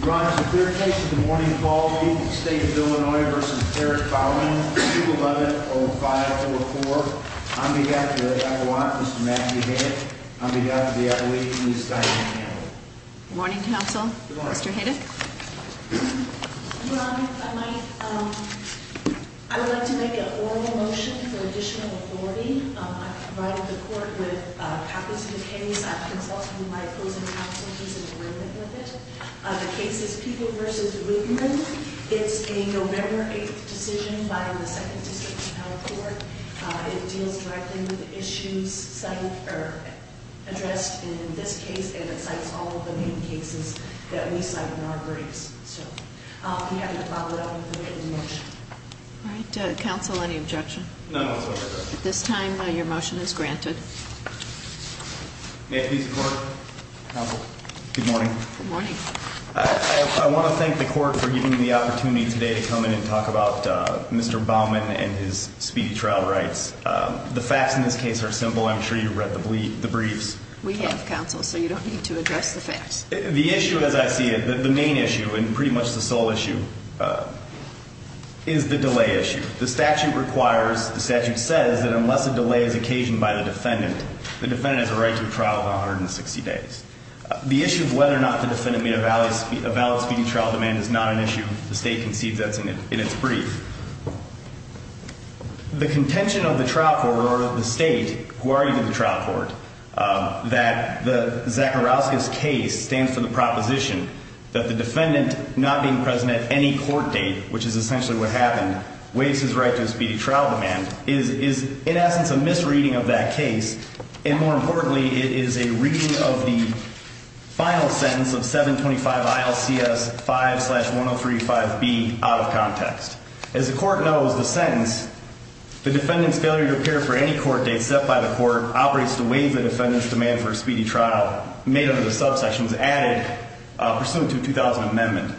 Your Honor, it's a clear case of the morning quality, the State of Illinois v. Harris-Bauman, 2-110-504. On behalf of the Avalanche, Mr. Matthew Haydick, on behalf of the Avalanche, Ms. Diane Campbell. Good morning, counsel. Mr. Haydick? Your Honor, if I might, I would like to make an oral motion for additional authority. I've provided the court with copies of the case. I've consulted with my opposing counsel. He's in agreement with it. The case is People v. Ruebman. It's a November 8th decision by the 2nd District Appellate Court. It deals directly with the issues addressed in this case, and it cites all of the main cases that we cite in our briefs. So, I'll be happy to follow it up with a written motion. All right, counsel, any objection? None whatsoever, Your Honor. At this time, your motion is granted. May it please the Court? Counsel? Good morning. Good morning. I want to thank the Court for giving me the opportunity today to come in and talk about Mr. Bauman and his speedy trial rights. The facts in this case are simple. I'm sure you've read the briefs. We have, counsel, so you don't need to address the facts. The issue as I see it, the main issue and pretty much the sole issue, is the delay issue. The statute requires, the statute says that unless a delay is occasioned by the defendant, the defendant has a right to a trial of 160 days. The issue of whether or not the defendant made a valid speedy trial demand is not an issue. The State concedes that in its brief. The contention of the trial court or the State, who are even the trial court, that the Zacharowskis case stands for the proposition that the defendant not being present at any court date, which is essentially what happened, waives his right to a speedy trial demand, is in essence a misreading of that case. And more importantly, it is a reading of the final sentence of 725 ILCS 5-1035B out of context. As the Court knows, the sentence, the defendant's failure to appear for any court date set by the Court operates to waive the defendant's demand for a speedy trial made under the subsection was added pursuant to a 2000 amendment.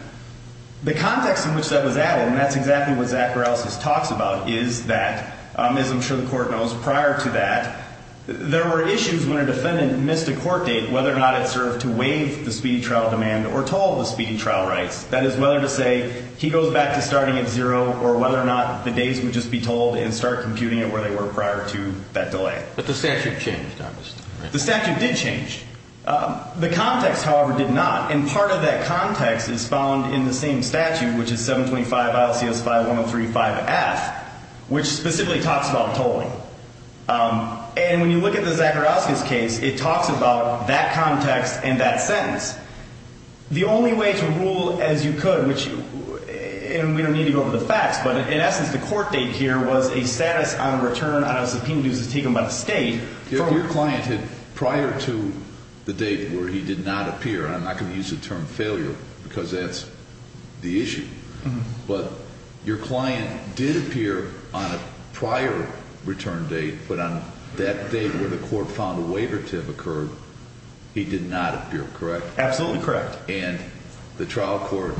The context in which that was added, and that's exactly what Zacharowskis talks about, is that, as I'm sure the Court knows, prior to that, there were issues when a defendant missed a court date, whether or not it served to waive the speedy trial demand or toll the speedy trial rights. That is, whether to say he goes back to starting at zero or whether or not the dates would just be tolled and start computing it where they were prior to that delay. But the statute changed, obviously. The statute did change. The context, however, did not. And part of that context is found in the same statute, which is 725 ILCS 5-1035F, which specifically talks about tolling. And when you look at the Zacharowskis case, it talks about that context and that sentence. The only way to rule as you could, and we don't need to go over the facts, but in essence, the court date here was a status on a return on a subpoena due to a state. If your client had prior to the date where he did not appear, and I'm not going to use the term failure because that's the issue, but your client did appear on a prior return date, but on that date where the court found a waiver to have occurred, he did not appear, correct? Absolutely correct. And the trial court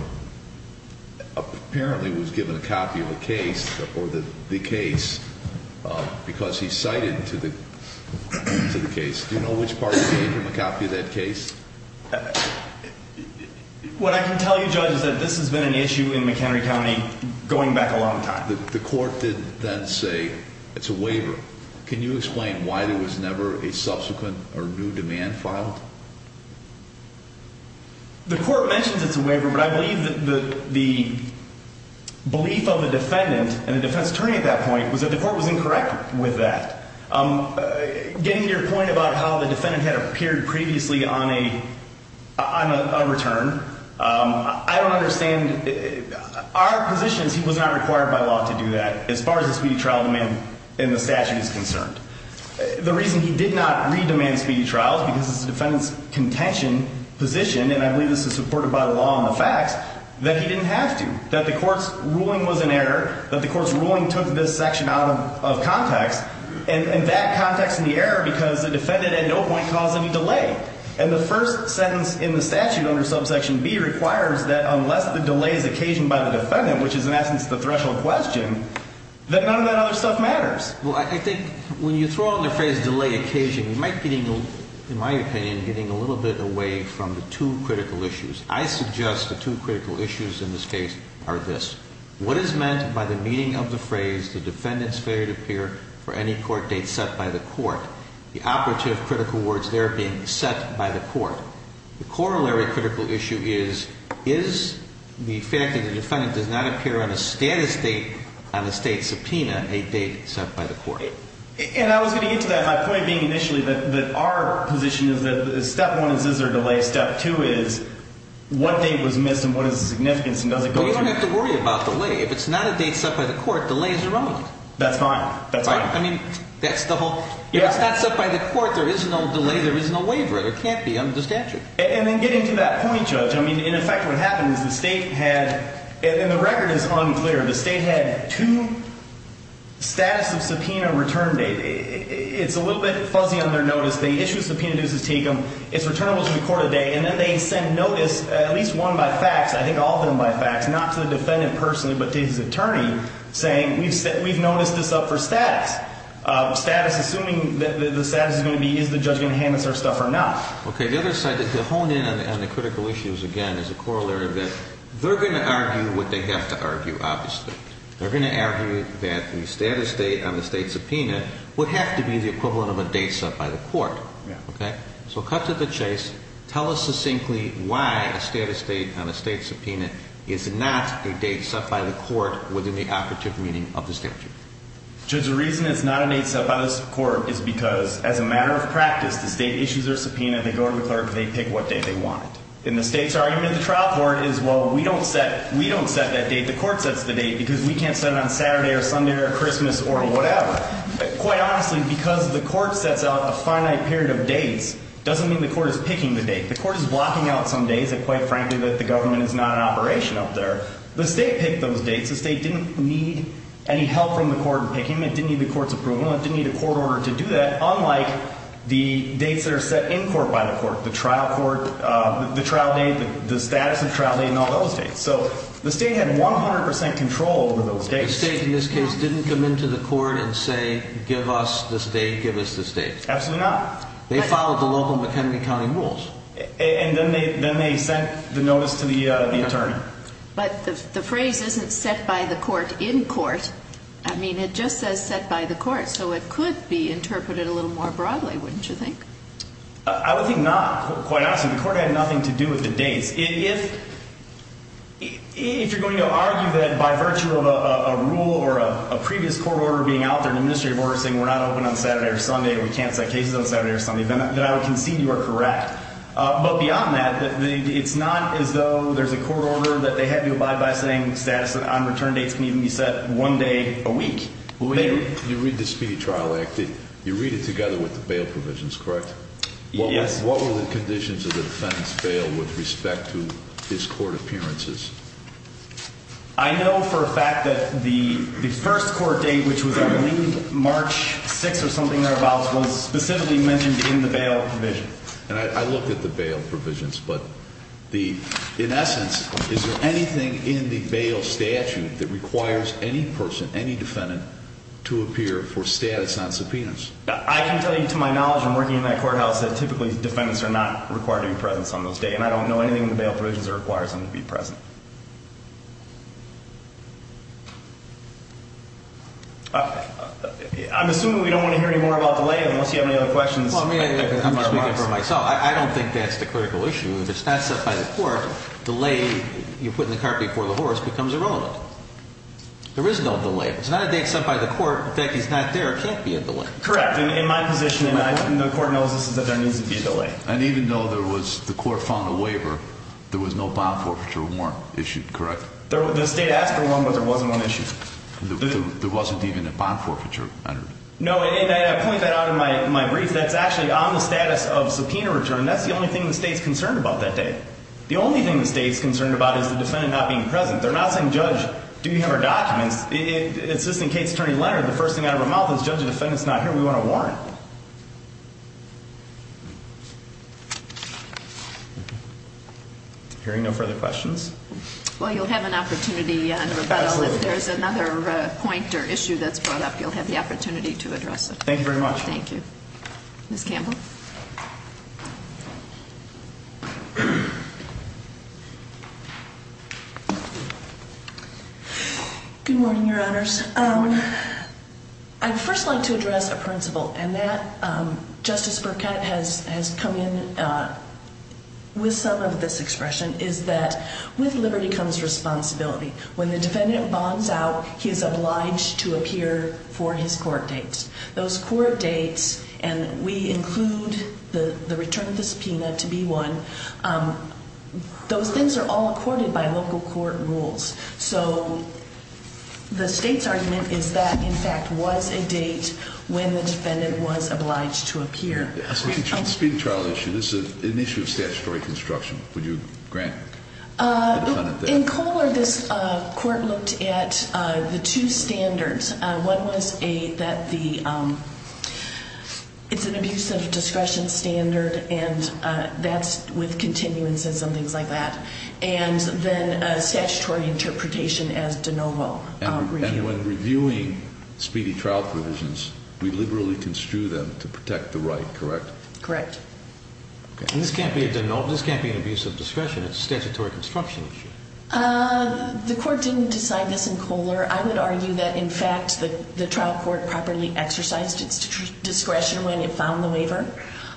apparently was given a copy of the case because he cited to the case. Do you know which party gave him a copy of that case? What I can tell you, Judge, is that this has been an issue in McHenry County going back a long time. The court did then say it's a waiver. Can you explain why there was never a subsequent or new demand filed? The court mentions it's a waiver, but I believe that the belief of the defendant and the defense attorney at that point was that the court was incorrect with that. Getting to your point about how the defendant had appeared previously on a return, I don't understand. Our position is he was not required by law to do that as far as the speedy trial demand in the statute is concerned. The reason he did not re-demand speedy trial is because it's the defendant's contention position, and I believe this is supported by the law and the facts, that he didn't have to. That the court's ruling was an error, that the court's ruling took this section out of context, and that context in the error because the defendant at no point caused any delay. And the first sentence in the statute under subsection B requires that unless the delay is occasioned by the defendant, which is in essence the threshold question, that none of that other stuff matters. Well, I think when you throw in the phrase delay occasion, you might be, in my opinion, getting a little bit away from the two critical issues. I suggest the two critical issues in this case are this. What is meant by the meaning of the phrase the defendant's failure to appear for any court date set by the court? The operative critical words there being set by the court. The corollary critical issue is, is the fact that the defendant does not appear on a status date on a state subpoena a date set by the court? And I was going to get to that, my point being initially that our position is that step one is, is there a delay? Step two is, what date was missed and what is the significance and does it go through? Well, you don't have to worry about delay. If it's not a date set by the court, delay is irrelevant. That's fine. That's fine. I mean, that's the whole. If it's not set by the court, there is no delay, there is no waiver. There can't be under the statute. And then getting to that point, Judge, I mean, in effect what happened is the state had, and the record is unclear, the state had two status of subpoena return date. It's a little bit fuzzy on their notice. They issue a subpoena dues to take them. It's returnable to the court of the day. And then they send notice, at least one by fax, I think all of them by fax, not to the defendant personally, but to his attorney saying we've noticed this up for status. Assuming that the status is going to be is the judge going to hand us our stuff or not? Okay. The other side, to hone in on the critical issues again is the corollary of that. They're going to argue what they have to argue, obviously. They're going to argue that the status date on the state subpoena would have to be the equivalent of a date set by the court. Okay. So cut to the chase. Tell us succinctly why a status date on a state subpoena is not a date set by the court within the operative meaning of the statute. Judge, the reason it's not a date set by the court is because, as a matter of practice, the state issues their subpoena. They go to the clerk. They pick what date they want. And the state's argument in the trial court is, well, we don't set that date. The court sets the date because we can't set it on Saturday or Sunday or Christmas or whatever. Quite honestly, because the court sets out a finite period of dates doesn't mean the court is picking the date. The court is blocking out some days that, quite frankly, that the government is not in operation up there. The state picked those dates. The state didn't need any help from the court in picking them. It didn't need the court's approval. It didn't need a court order to do that, unlike the dates that are set in court by the court, the trial court, the trial date, the status of trial date and all those dates. So the state had 100 percent control over those dates. The state, in this case, didn't come into the court and say, give us the state, give us the state. Absolutely not. They followed the local McHenry County rules. And then they sent the notice to the attorney. But the phrase isn't set by the court in court. I mean, it just says set by the court. So it could be interpreted a little more broadly, wouldn't you think? I would think not, quite honestly. The court had nothing to do with the dates. If you're going to argue that by virtue of a rule or a previous court order being out there, an administrative order saying we're not open on Saturday or Sunday, we can't set cases on Saturday or Sunday, then I would concede you are correct. But beyond that, it's not as though there's a court order that they have you abide by saying status on return dates can even be set one day a week. You read the Speedy Trial Act. You read it together with the bail provisions, correct? Yes. What were the conditions of the defendant's bail with respect to his court appearances? I know for a fact that the first court date, which was I believe March 6th or something thereabouts, was specifically mentioned in the bail provision. And I looked at the bail provisions. But in essence, is there anything in the bail statute that requires any person, any defendant, to appear for status on subpoenas? I can tell you to my knowledge from working in that courthouse that typically defendants are not required to be present on those dates. And I don't know anything in the bail provisions that requires them to be present. I'm assuming we don't want to hear any more about delay unless you have any other questions. I'm speaking for myself. I don't think that's the critical issue. If it's not set by the court, delay, you put in the cart before the horse, becomes irrelevant. There is no delay. It's not a date set by the court that he's not there or can't be a delay. Correct. In my position, the court knows this is that there needs to be a delay. And even though there was the court found a waiver, there was no bond forfeiture warrant issued, correct? The state asked for one, but there wasn't one issued. There wasn't even a bond forfeiture. No, and I point that out in my brief. That's actually on the status of subpoena return. That's the only thing the state's concerned about that day. The only thing the state's concerned about is the defendant not being present. They're not saying, Judge, do you have our documents? It's just in case Attorney Leonard, the first thing out of our mouth is, Judge, the defendant's not here. We want a warrant. Hearing no further questions. Well, you'll have an opportunity in rebuttal. Absolutely. If there's another point or issue that's brought up, you'll have the opportunity to address it. Thank you very much. Thank you. Ms. Campbell. Good morning, Your Honors. Good morning. I'd first like to address a principle, and that Justice Burkett has come in with some of this expression, is that with liberty comes responsibility. When the defendant bonds out, he is obliged to appear for his court dates. Those court dates, and we include the return of the subpoena to be one, those things are all accorded by local court rules. So the state's argument is that, in fact, was a date when the defendant was obliged to appear. Speaking to the trial issue, this is an issue of statutory construction. Would you grant the defendant that? In Kohler, this court looked at the two standards. One was that it's an abuse of discretion standard, and that's with continuances and things like that. And then a statutory interpretation as de novo. And when reviewing speedy trial provisions, we liberally construe them to protect the right, correct? Correct. And this can't be a de novo. This can't be an abuse of discretion. It's a statutory construction issue. The court didn't decide this in Kohler. I would argue that, in fact, the trial court properly exercised its discretion when it found the waiver.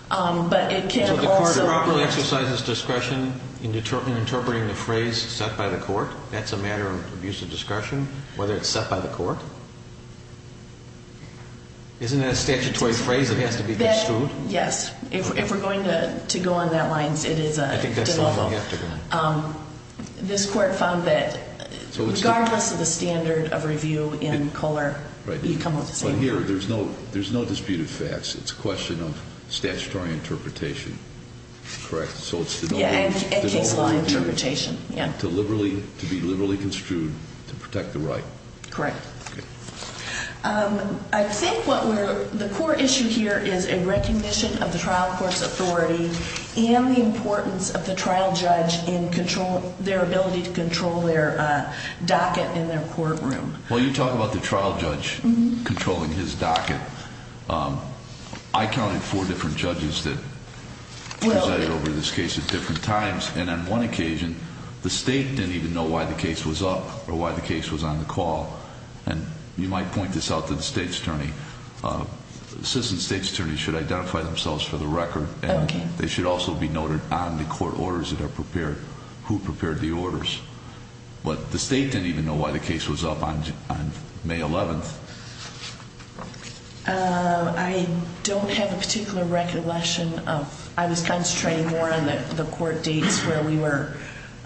But it can also – So the court properly exercises discretion in interpreting the phrase set by the court? That's a matter of abuse of discretion, whether it's set by the court? Isn't that a statutory phrase that has to be construed? Yes. If we're going to go on that line, it is a de novo. I think that's the one we have to go on. This court found that, regardless of the standard of review in Kohler, you come up with the same one. But here, there's no disputed facts. It's a question of statutory interpretation, correct? Yeah, and case law interpretation, yeah. To be liberally construed to protect the right. Correct. Okay. I think what we're – the core issue here is a recognition of the trial court's authority and the importance of the trial judge in controlling – their ability to control their docket in their courtroom. Well, you talk about the trial judge controlling his docket. I counted four different judges that presided over this case at different times. And on one occasion, the state didn't even know why the case was up or why the case was on the call. And you might point this out to the state's attorney. Citizens' state's attorneys should identify themselves for the record. They should also be noted on the court orders that are prepared, who prepared the orders. But the state didn't even know why the case was up on May 11th. I don't have a particular recollection of – I was concentrating more on the court dates where we were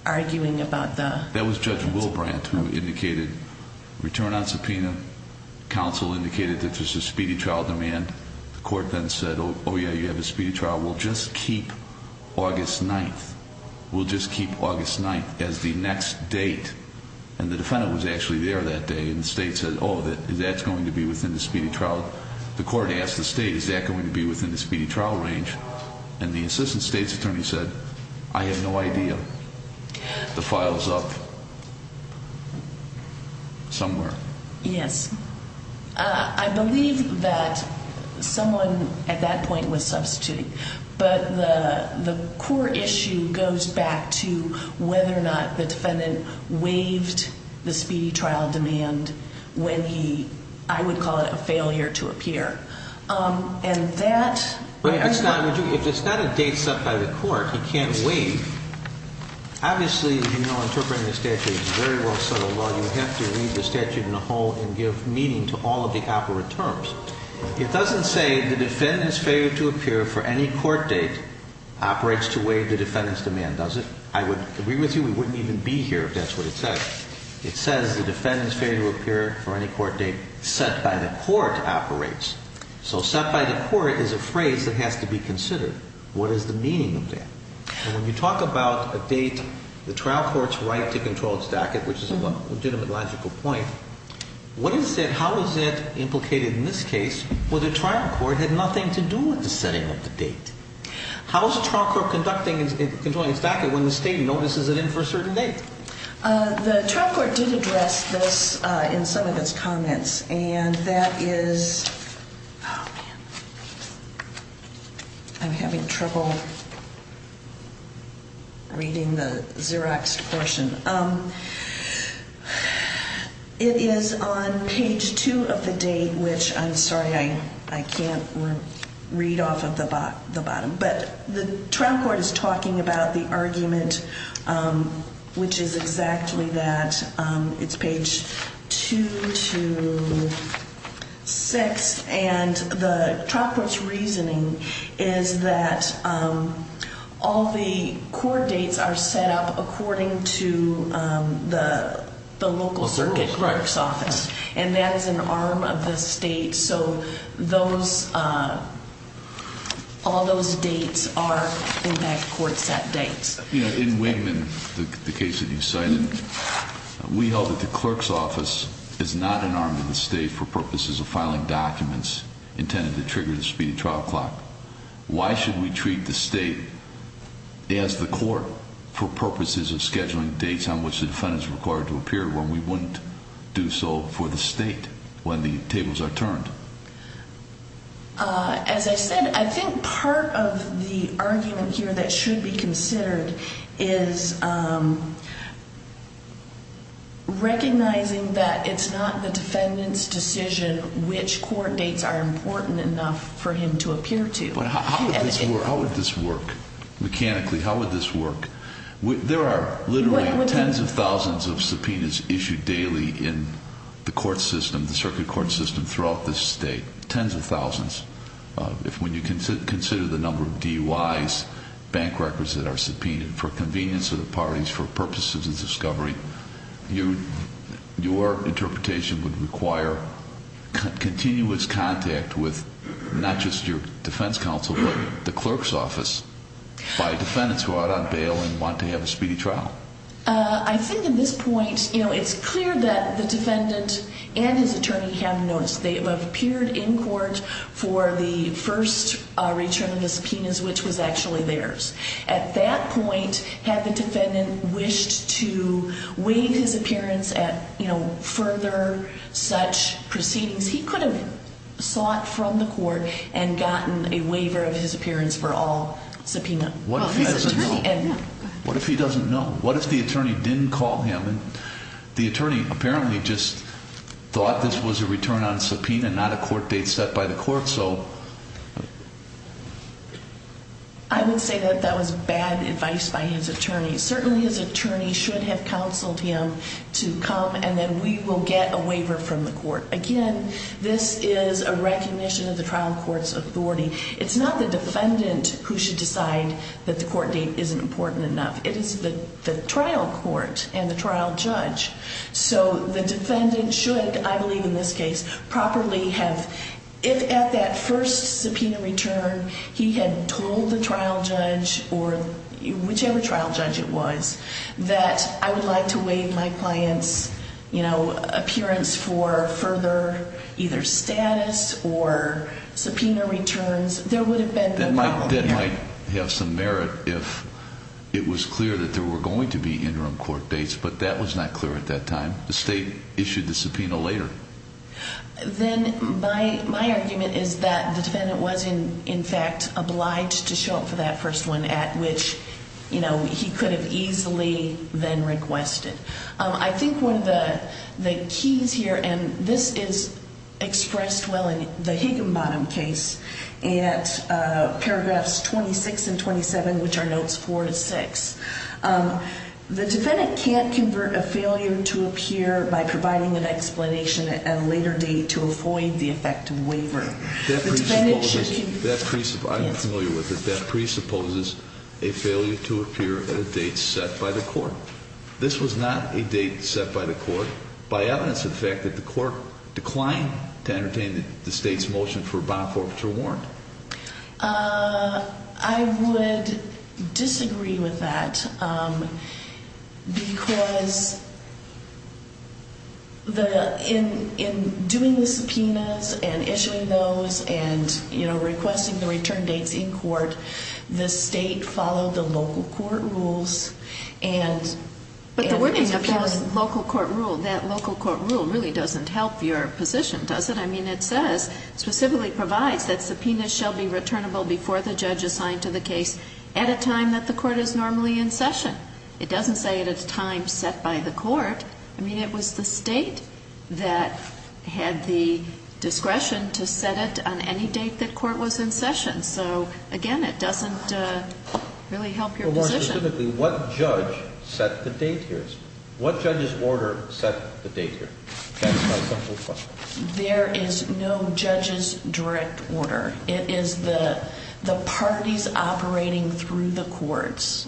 arguing about the – that was Judge Wilbrandt who indicated return on subpoena. Counsel indicated that there's a speedy trial demand. The court then said, oh, yeah, you have a speedy trial. We'll just keep August 9th. We'll just keep August 9th as the next date. And the defendant was actually there that day, and the state said, oh, that's going to be within the speedy trial. The court asked the state, is that going to be within the speedy trial range? And the assistant state's attorney said, I have no idea. The file's up somewhere. Yes. I believe that someone at that point was substituting. But the core issue goes back to whether or not the defendant waived the speedy trial demand when he – I would call it a failure to appear. And that – If it's not a date set by the court, he can't waive, obviously, as you know, interpreting the statute is a very well-settled law. You have to read the statute in a whole and give meaning to all of the operant terms. It doesn't say the defendant's failure to appear for any court date operates to waive the defendant's demand, does it? I would agree with you we wouldn't even be here if that's what it says. It says the defendant's failure to appear for any court date set by the court operates. So set by the court is a phrase that has to be considered. What is the meaning of that? And when you talk about a date the trial court's right to control its dacet, which is a legitimate logical point, what is it – how is it implicated in this case where the trial court had nothing to do with the setting of the date? How is the trial court conducting – controlling its dacet when the state notices it in for a certain date? The trial court did address this in some of its comments, and that is – oh, man, I'm having trouble reading the Xeroxed portion. It is on page 2 of the date, which I'm sorry I can't read off of the bottom, but the trial court is talking about the argument which is exactly that. It's page 2 to 6, and the trial court's reasoning is that all the court dates are set up according to the local circuit clerk's office. And that is an arm of the state, so those – all those dates are impact court set dates. In Wigman, the case that you cited, we held that the clerk's office is not an arm of the state for purposes of filing documents intended to trigger the speedy trial clock. Why should we treat the state as the court for purposes of scheduling dates on which the defendant is required to appear when we wouldn't do so for the state when the tables are turned? As I said, I think part of the argument here that should be considered is recognizing that it's not the defendant's decision which court dates are important enough for him to appear to. But how would this work? How would this work? Mechanically, how would this work? There are literally tens of thousands of subpoenas issued daily in the court system, the circuit court system throughout this state. Tens of thousands. When you consider the number of DUIs, bank records that are subpoenaed for convenience of the parties, for purposes of discovery, your interpretation would require continuous contact with not just your defense counsel but the clerk's office by defendants who are out on bail and want to have a speedy trial. I think at this point, you know, it's clear that the defendant and his attorney have noticed. They have appeared in court for the first return of the subpoenas which was actually theirs. At that point, had the defendant wished to waive his appearance at, you know, further such proceedings, he could have sought from the court and gotten a waiver of his appearance for all subpoenas. What if he doesn't know? What if he doesn't know? What if the attorney didn't call him and the attorney apparently just thought this was a return on subpoena, not a court date set by the court, so? I would say that that was bad advice by his attorney. Certainly, his attorney should have counseled him to come and then we will get a waiver from the court. Again, this is a recognition of the trial court's authority. It's not the defendant who should decide that the court date isn't important enough. It is the trial court and the trial judge. So the defendant should, I believe in this case, properly have, if at that first subpoena return he had told the trial judge or whichever trial judge it was, that I would like to waive my client's, you know, appearance for further either status or subpoena returns, there would have been no problem. That might have some merit if it was clear that there were going to be interim court dates, but that was not clear at that time. The state issued the subpoena later. Then my argument is that the defendant was, in fact, obliged to show up for that first one at which, you know, he could have easily then requested. I think one of the keys here, and this is expressed well in the Higginbottom case at paragraphs 26 and 27, which are notes four to six, the defendant can't convert a failure to appear by providing an explanation at a later date to avoid the effect of waiver. That presupposes, I'm familiar with it, that presupposes a failure to appear at a date set by the court. This was not a date set by the court by evidence of the fact that the court declined to entertain the state's motion for a bond forfeiture warrant. I would disagree with that because in doing the subpoenas and issuing those and, you know, requesting the return dates in court, the state followed the local court rules. But the wording of those local court rules, that local court rule really doesn't help your position, does it? I mean, it says, specifically provides that subpoenas shall be returnable before the judge is signed to the case at a time that the court is normally in session. It doesn't say at a time set by the court. I mean, it was the state that had the discretion to set it on any date that court was in session. So, again, it doesn't really help your position. But more specifically, what judge set the date here? What judge's order set the date here? There is no judge's direct order. It is the parties operating through the courts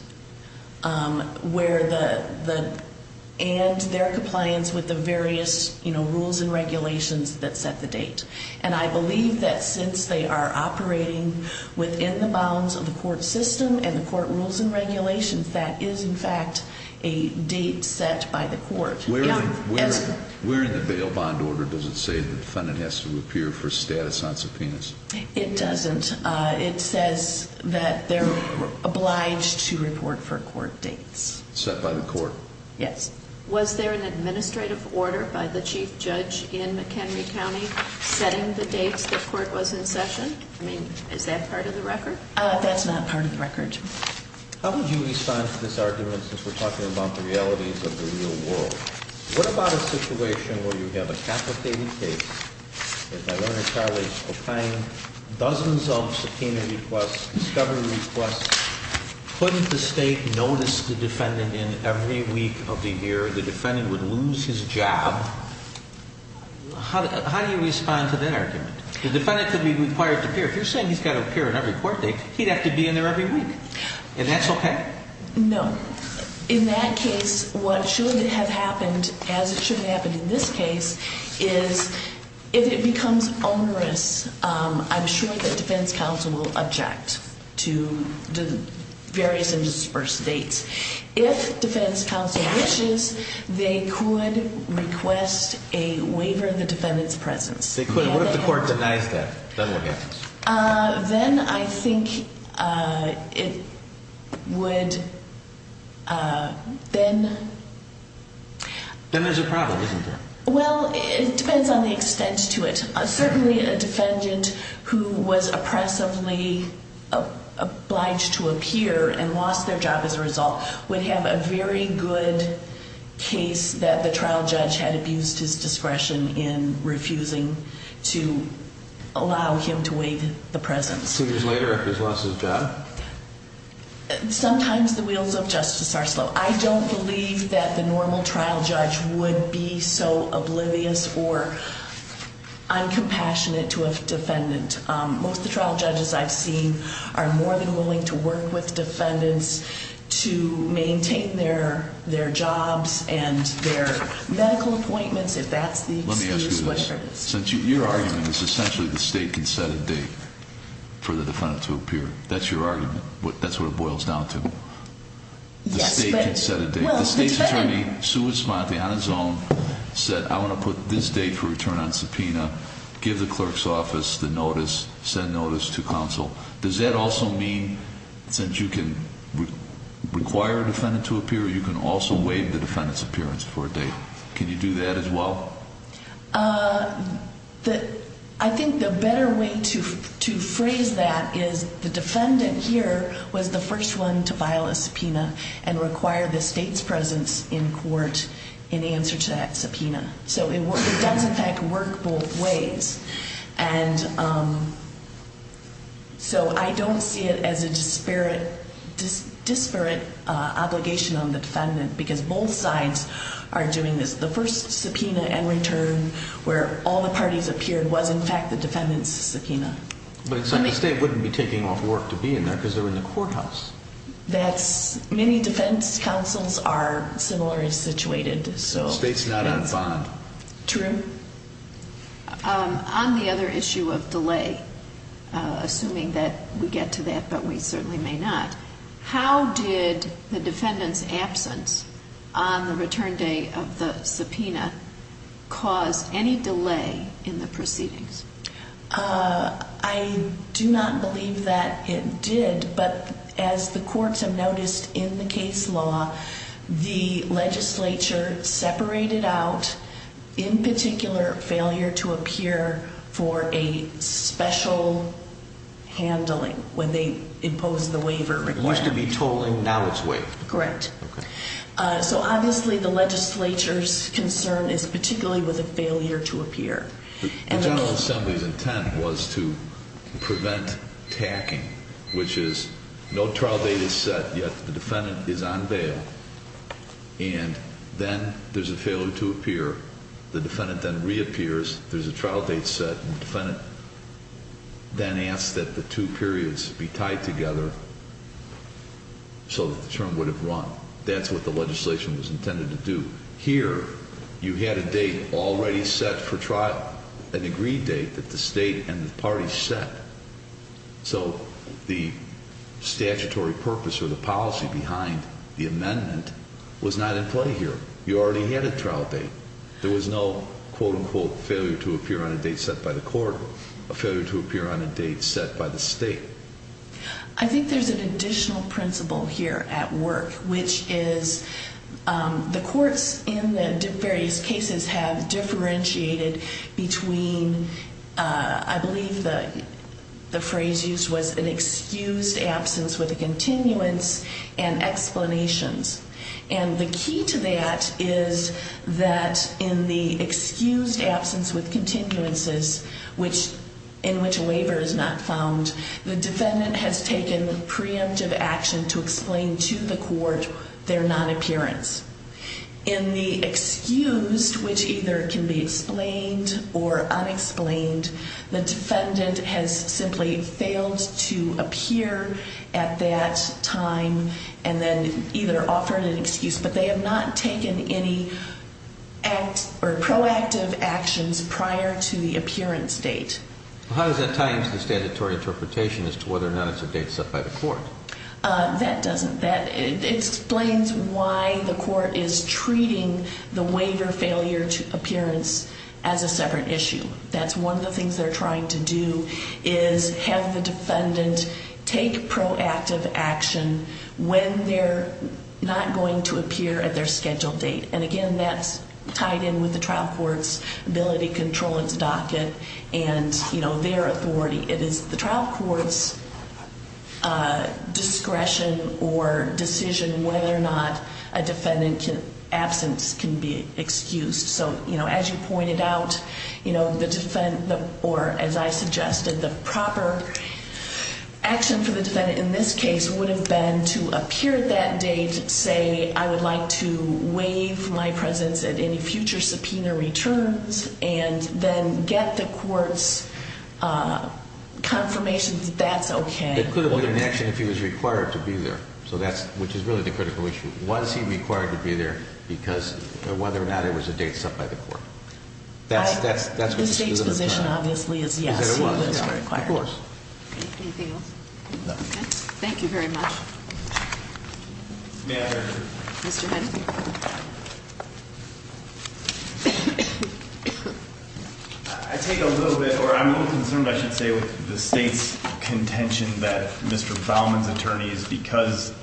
and their compliance with the various rules and regulations that set the date. And I believe that since they are operating within the bounds of the court system and the court rules and regulations, that is, in fact, a date set by the court. Where in the bail bond order does it say the defendant has to appear for status on subpoenas? It doesn't. It says that they're obliged to report for court dates. Set by the court? Yes. Was there an administrative order by the chief judge in McHenry County setting the dates the court was in session? I mean, is that part of the record? That's not part of the record. How would you respond to this argument since we're talking about the realities of the real world? What about a situation where you have a capitated case, and that owner is filing dozens of subpoena requests, discovery requests? Couldn't the state notice the defendant in every week of the year? The defendant would lose his job. How do you respond to that argument? The defendant could be required to appear. If you're saying he's got to appear in every court date, he'd have to be in there every week. And that's okay? No. In that case, what should have happened, as it should have happened in this case, is if it becomes onerous, I'm sure that defense counsel will object to the various and dispersed dates. If defense counsel wishes, they could request a waiver of the defendant's presence. What if the court denies that? Then what happens? Then I think it would, then... Then there's a problem, isn't there? Well, it depends on the extent to it. Certainly a defendant who was oppressively obliged to appear and lost their job as a result would have a very good case that the trial judge had abused his discretion in refusing to allow him to waive the presence. Two years later, he's lost his job? Sometimes the wheels of justice are slow. I don't believe that the normal trial judge would be so oblivious or uncompassionate to a defendant. Most of the trial judges I've seen are more than willing to work with defendants to maintain their jobs and their medical appointments, if that's the excuse, whatever it is. Your argument is essentially the state can set a date for the defendant to appear. That's your argument. That's what it boils down to. Yes, but... The state can set a date. Well, the defendant... The state's attorney, Sue Esmonte, on his own, said, I want to put this date for return on subpoena, give the clerk's office the notice, send notice to counsel. Does that also mean, since you can require a defendant to appear, you can also waive the defendant's appearance for a date? Can you do that as well? I think the better way to phrase that is the defendant here was the first one to file a subpoena and require the state's presence in court in answer to that subpoena. So it does, in fact, work both ways. And so I don't see it as a disparate obligation on the defendant, because both sides are doing this. The first subpoena and return where all the parties appeared was, in fact, the defendant's subpoena. But the state wouldn't be taking off work to be in there, because they're in the courthouse. That's... Many defense counsels are similarly situated, so... State's not on bond. True. On the other issue of delay, assuming that we get to that, but we certainly may not, how did the defendant's absence on the return day of the subpoena cause any delay in the proceedings? I do not believe that it did, but as the courts have noticed in the case law, the legislature separated out, in particular, failure to appear for a special handling when they imposed the waiver. It used to be tolling, now it's waived. Correct. Okay. So obviously the legislature's concern is particularly with a failure to appear. The General Assembly's intent was to prevent tacking, which is no trial date is set, yet the defendant is on bail, and then there's a failure to appear. The defendant then reappears, there's a trial date set, and the defendant then asks that the two periods be tied together so that the term would have run. That's what the legislation was intended to do. Here, you had a date already set for trial, an agreed date that the state and the parties set. So the statutory purpose or the policy behind the amendment was not in play here. You already had a trial date. There was no, quote, unquote, failure to appear on a date set by the court, a failure to appear on a date set by the state. I think there's an additional principle here at work, which is the courts in the various cases have differentiated between, I believe the phrase used was an excused absence with a continuance and explanations. And the key to that is that in the excused absence with continuances, in which a waiver is not found, the defendant has taken preemptive action to explain to the court their non-appearance. In the excused, which either can be explained or unexplained, the defendant has simply failed to appear at that time and then either offered an excuse, but they have not taken any proactive actions prior to the appearance date. How does that tie into the statutory interpretation as to whether or not it's a date set by the court? That doesn't. That explains why the court is treating the waiver failure to appearance as a separate issue. That's one of the things they're trying to do is have the defendant take proactive action when they're not going to appear at their scheduled date. And, again, that's tied in with the trial court's ability to control its docket and, you know, their authority. It is the trial court's discretion or decision whether or not a defendant's absence can be excused. So, you know, as you pointed out, you know, the defendant or, as I suggested, the proper action for the defendant in this case would have been to appear at that date, say, I would like to waive my presence at any future subpoena returns, and then get the court's confirmation that that's okay. It could have been an action if he was required to be there, so that's, which is really the critical issue. Was he required to be there because of whether or not it was a date set by the court? The state's position, obviously, is yes, he was required. Of course. Anything else? No. Okay. Thank you very much. May I have your order? Mr. Hennessey. I take a little bit, or I'm a little concerned, I should say, with the state's contention that Mr. Baumann's attorneys, because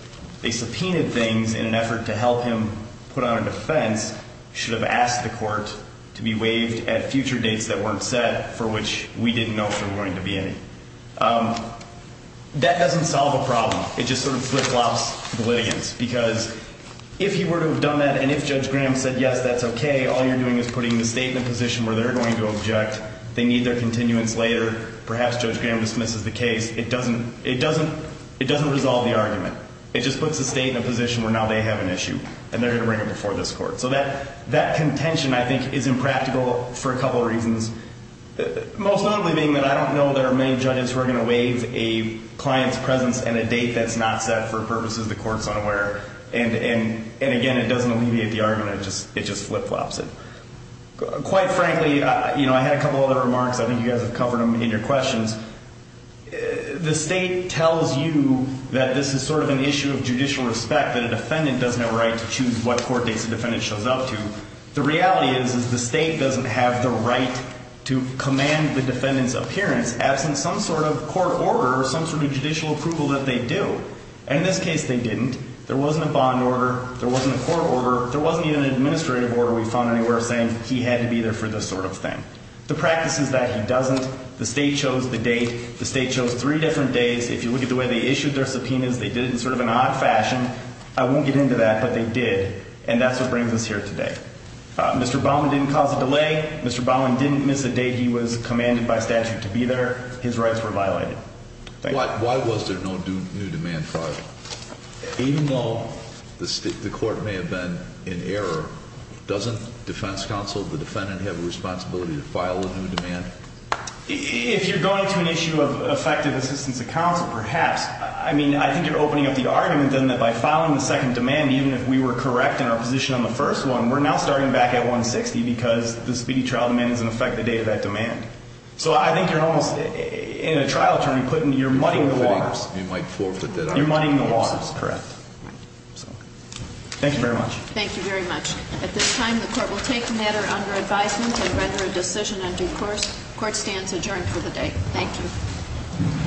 they subpoenaed things in an effort to help him put on a defense, should have asked the court to be waived at future dates that weren't set, for which we didn't know if there were going to be any. That doesn't solve a problem. It just sort of flip-flops the litigants, because if he were to have done that, and if Judge Graham said, yes, that's okay, all you're doing is putting the state in a position where they're going to object, they need their continuance later, perhaps Judge Graham dismisses the case, it doesn't resolve the argument. It just puts the state in a position where now they have an issue, and they're going to bring it before this court. So that contention, I think, is impractical for a couple reasons. Most notably being that I don't know there are many judges who are going to waive a client's presence and a date that's not set for purposes the court's unaware. And again, it doesn't alleviate the argument. It just flip-flops it. Quite frankly, I had a couple other remarks. I think you guys have covered them in your questions. The state tells you that this is sort of an issue of judicial respect, that a defendant does have a right to choose what court dates the defendant shows up to. The reality is is the state doesn't have the right to command the defendant's appearance absent some sort of court order or some sort of judicial approval that they do. And in this case, they didn't. There wasn't a bond order. There wasn't a court order. There wasn't even an administrative order we found anywhere saying he had to be there for this sort of thing. The practice is that he doesn't. The state chose the date. The state chose three different days. If you look at the way they issued their subpoenas, they did it in sort of an odd fashion. I won't get into that, but they did. And that's what brings us here today. Mr. Baumann didn't cause a delay. Mr. Baumann didn't miss a date he was commanded by statute to be there. His rights were violated. Thank you. Why was there no new demand filed? Even though the court may have been in error, doesn't defense counsel, the defendant, have a responsibility to file a new demand? If you're going to an issue of effective assistance of counsel, perhaps. I mean, I think you're opening up the argument then that by filing the second demand, even if we were correct in our position on the first one, we're now starting back at 160 because the speedy trial demand is an effective date of that demand. So I think you're almost, in a trial term, you're muddying the waters. You might forfeit that argument. You're muddying the waters. That's correct. Thank you very much. Thank you very much. At this time, the court will take the matter under advisement and render a decision on due course. Court stands adjourned for the day. Thank you.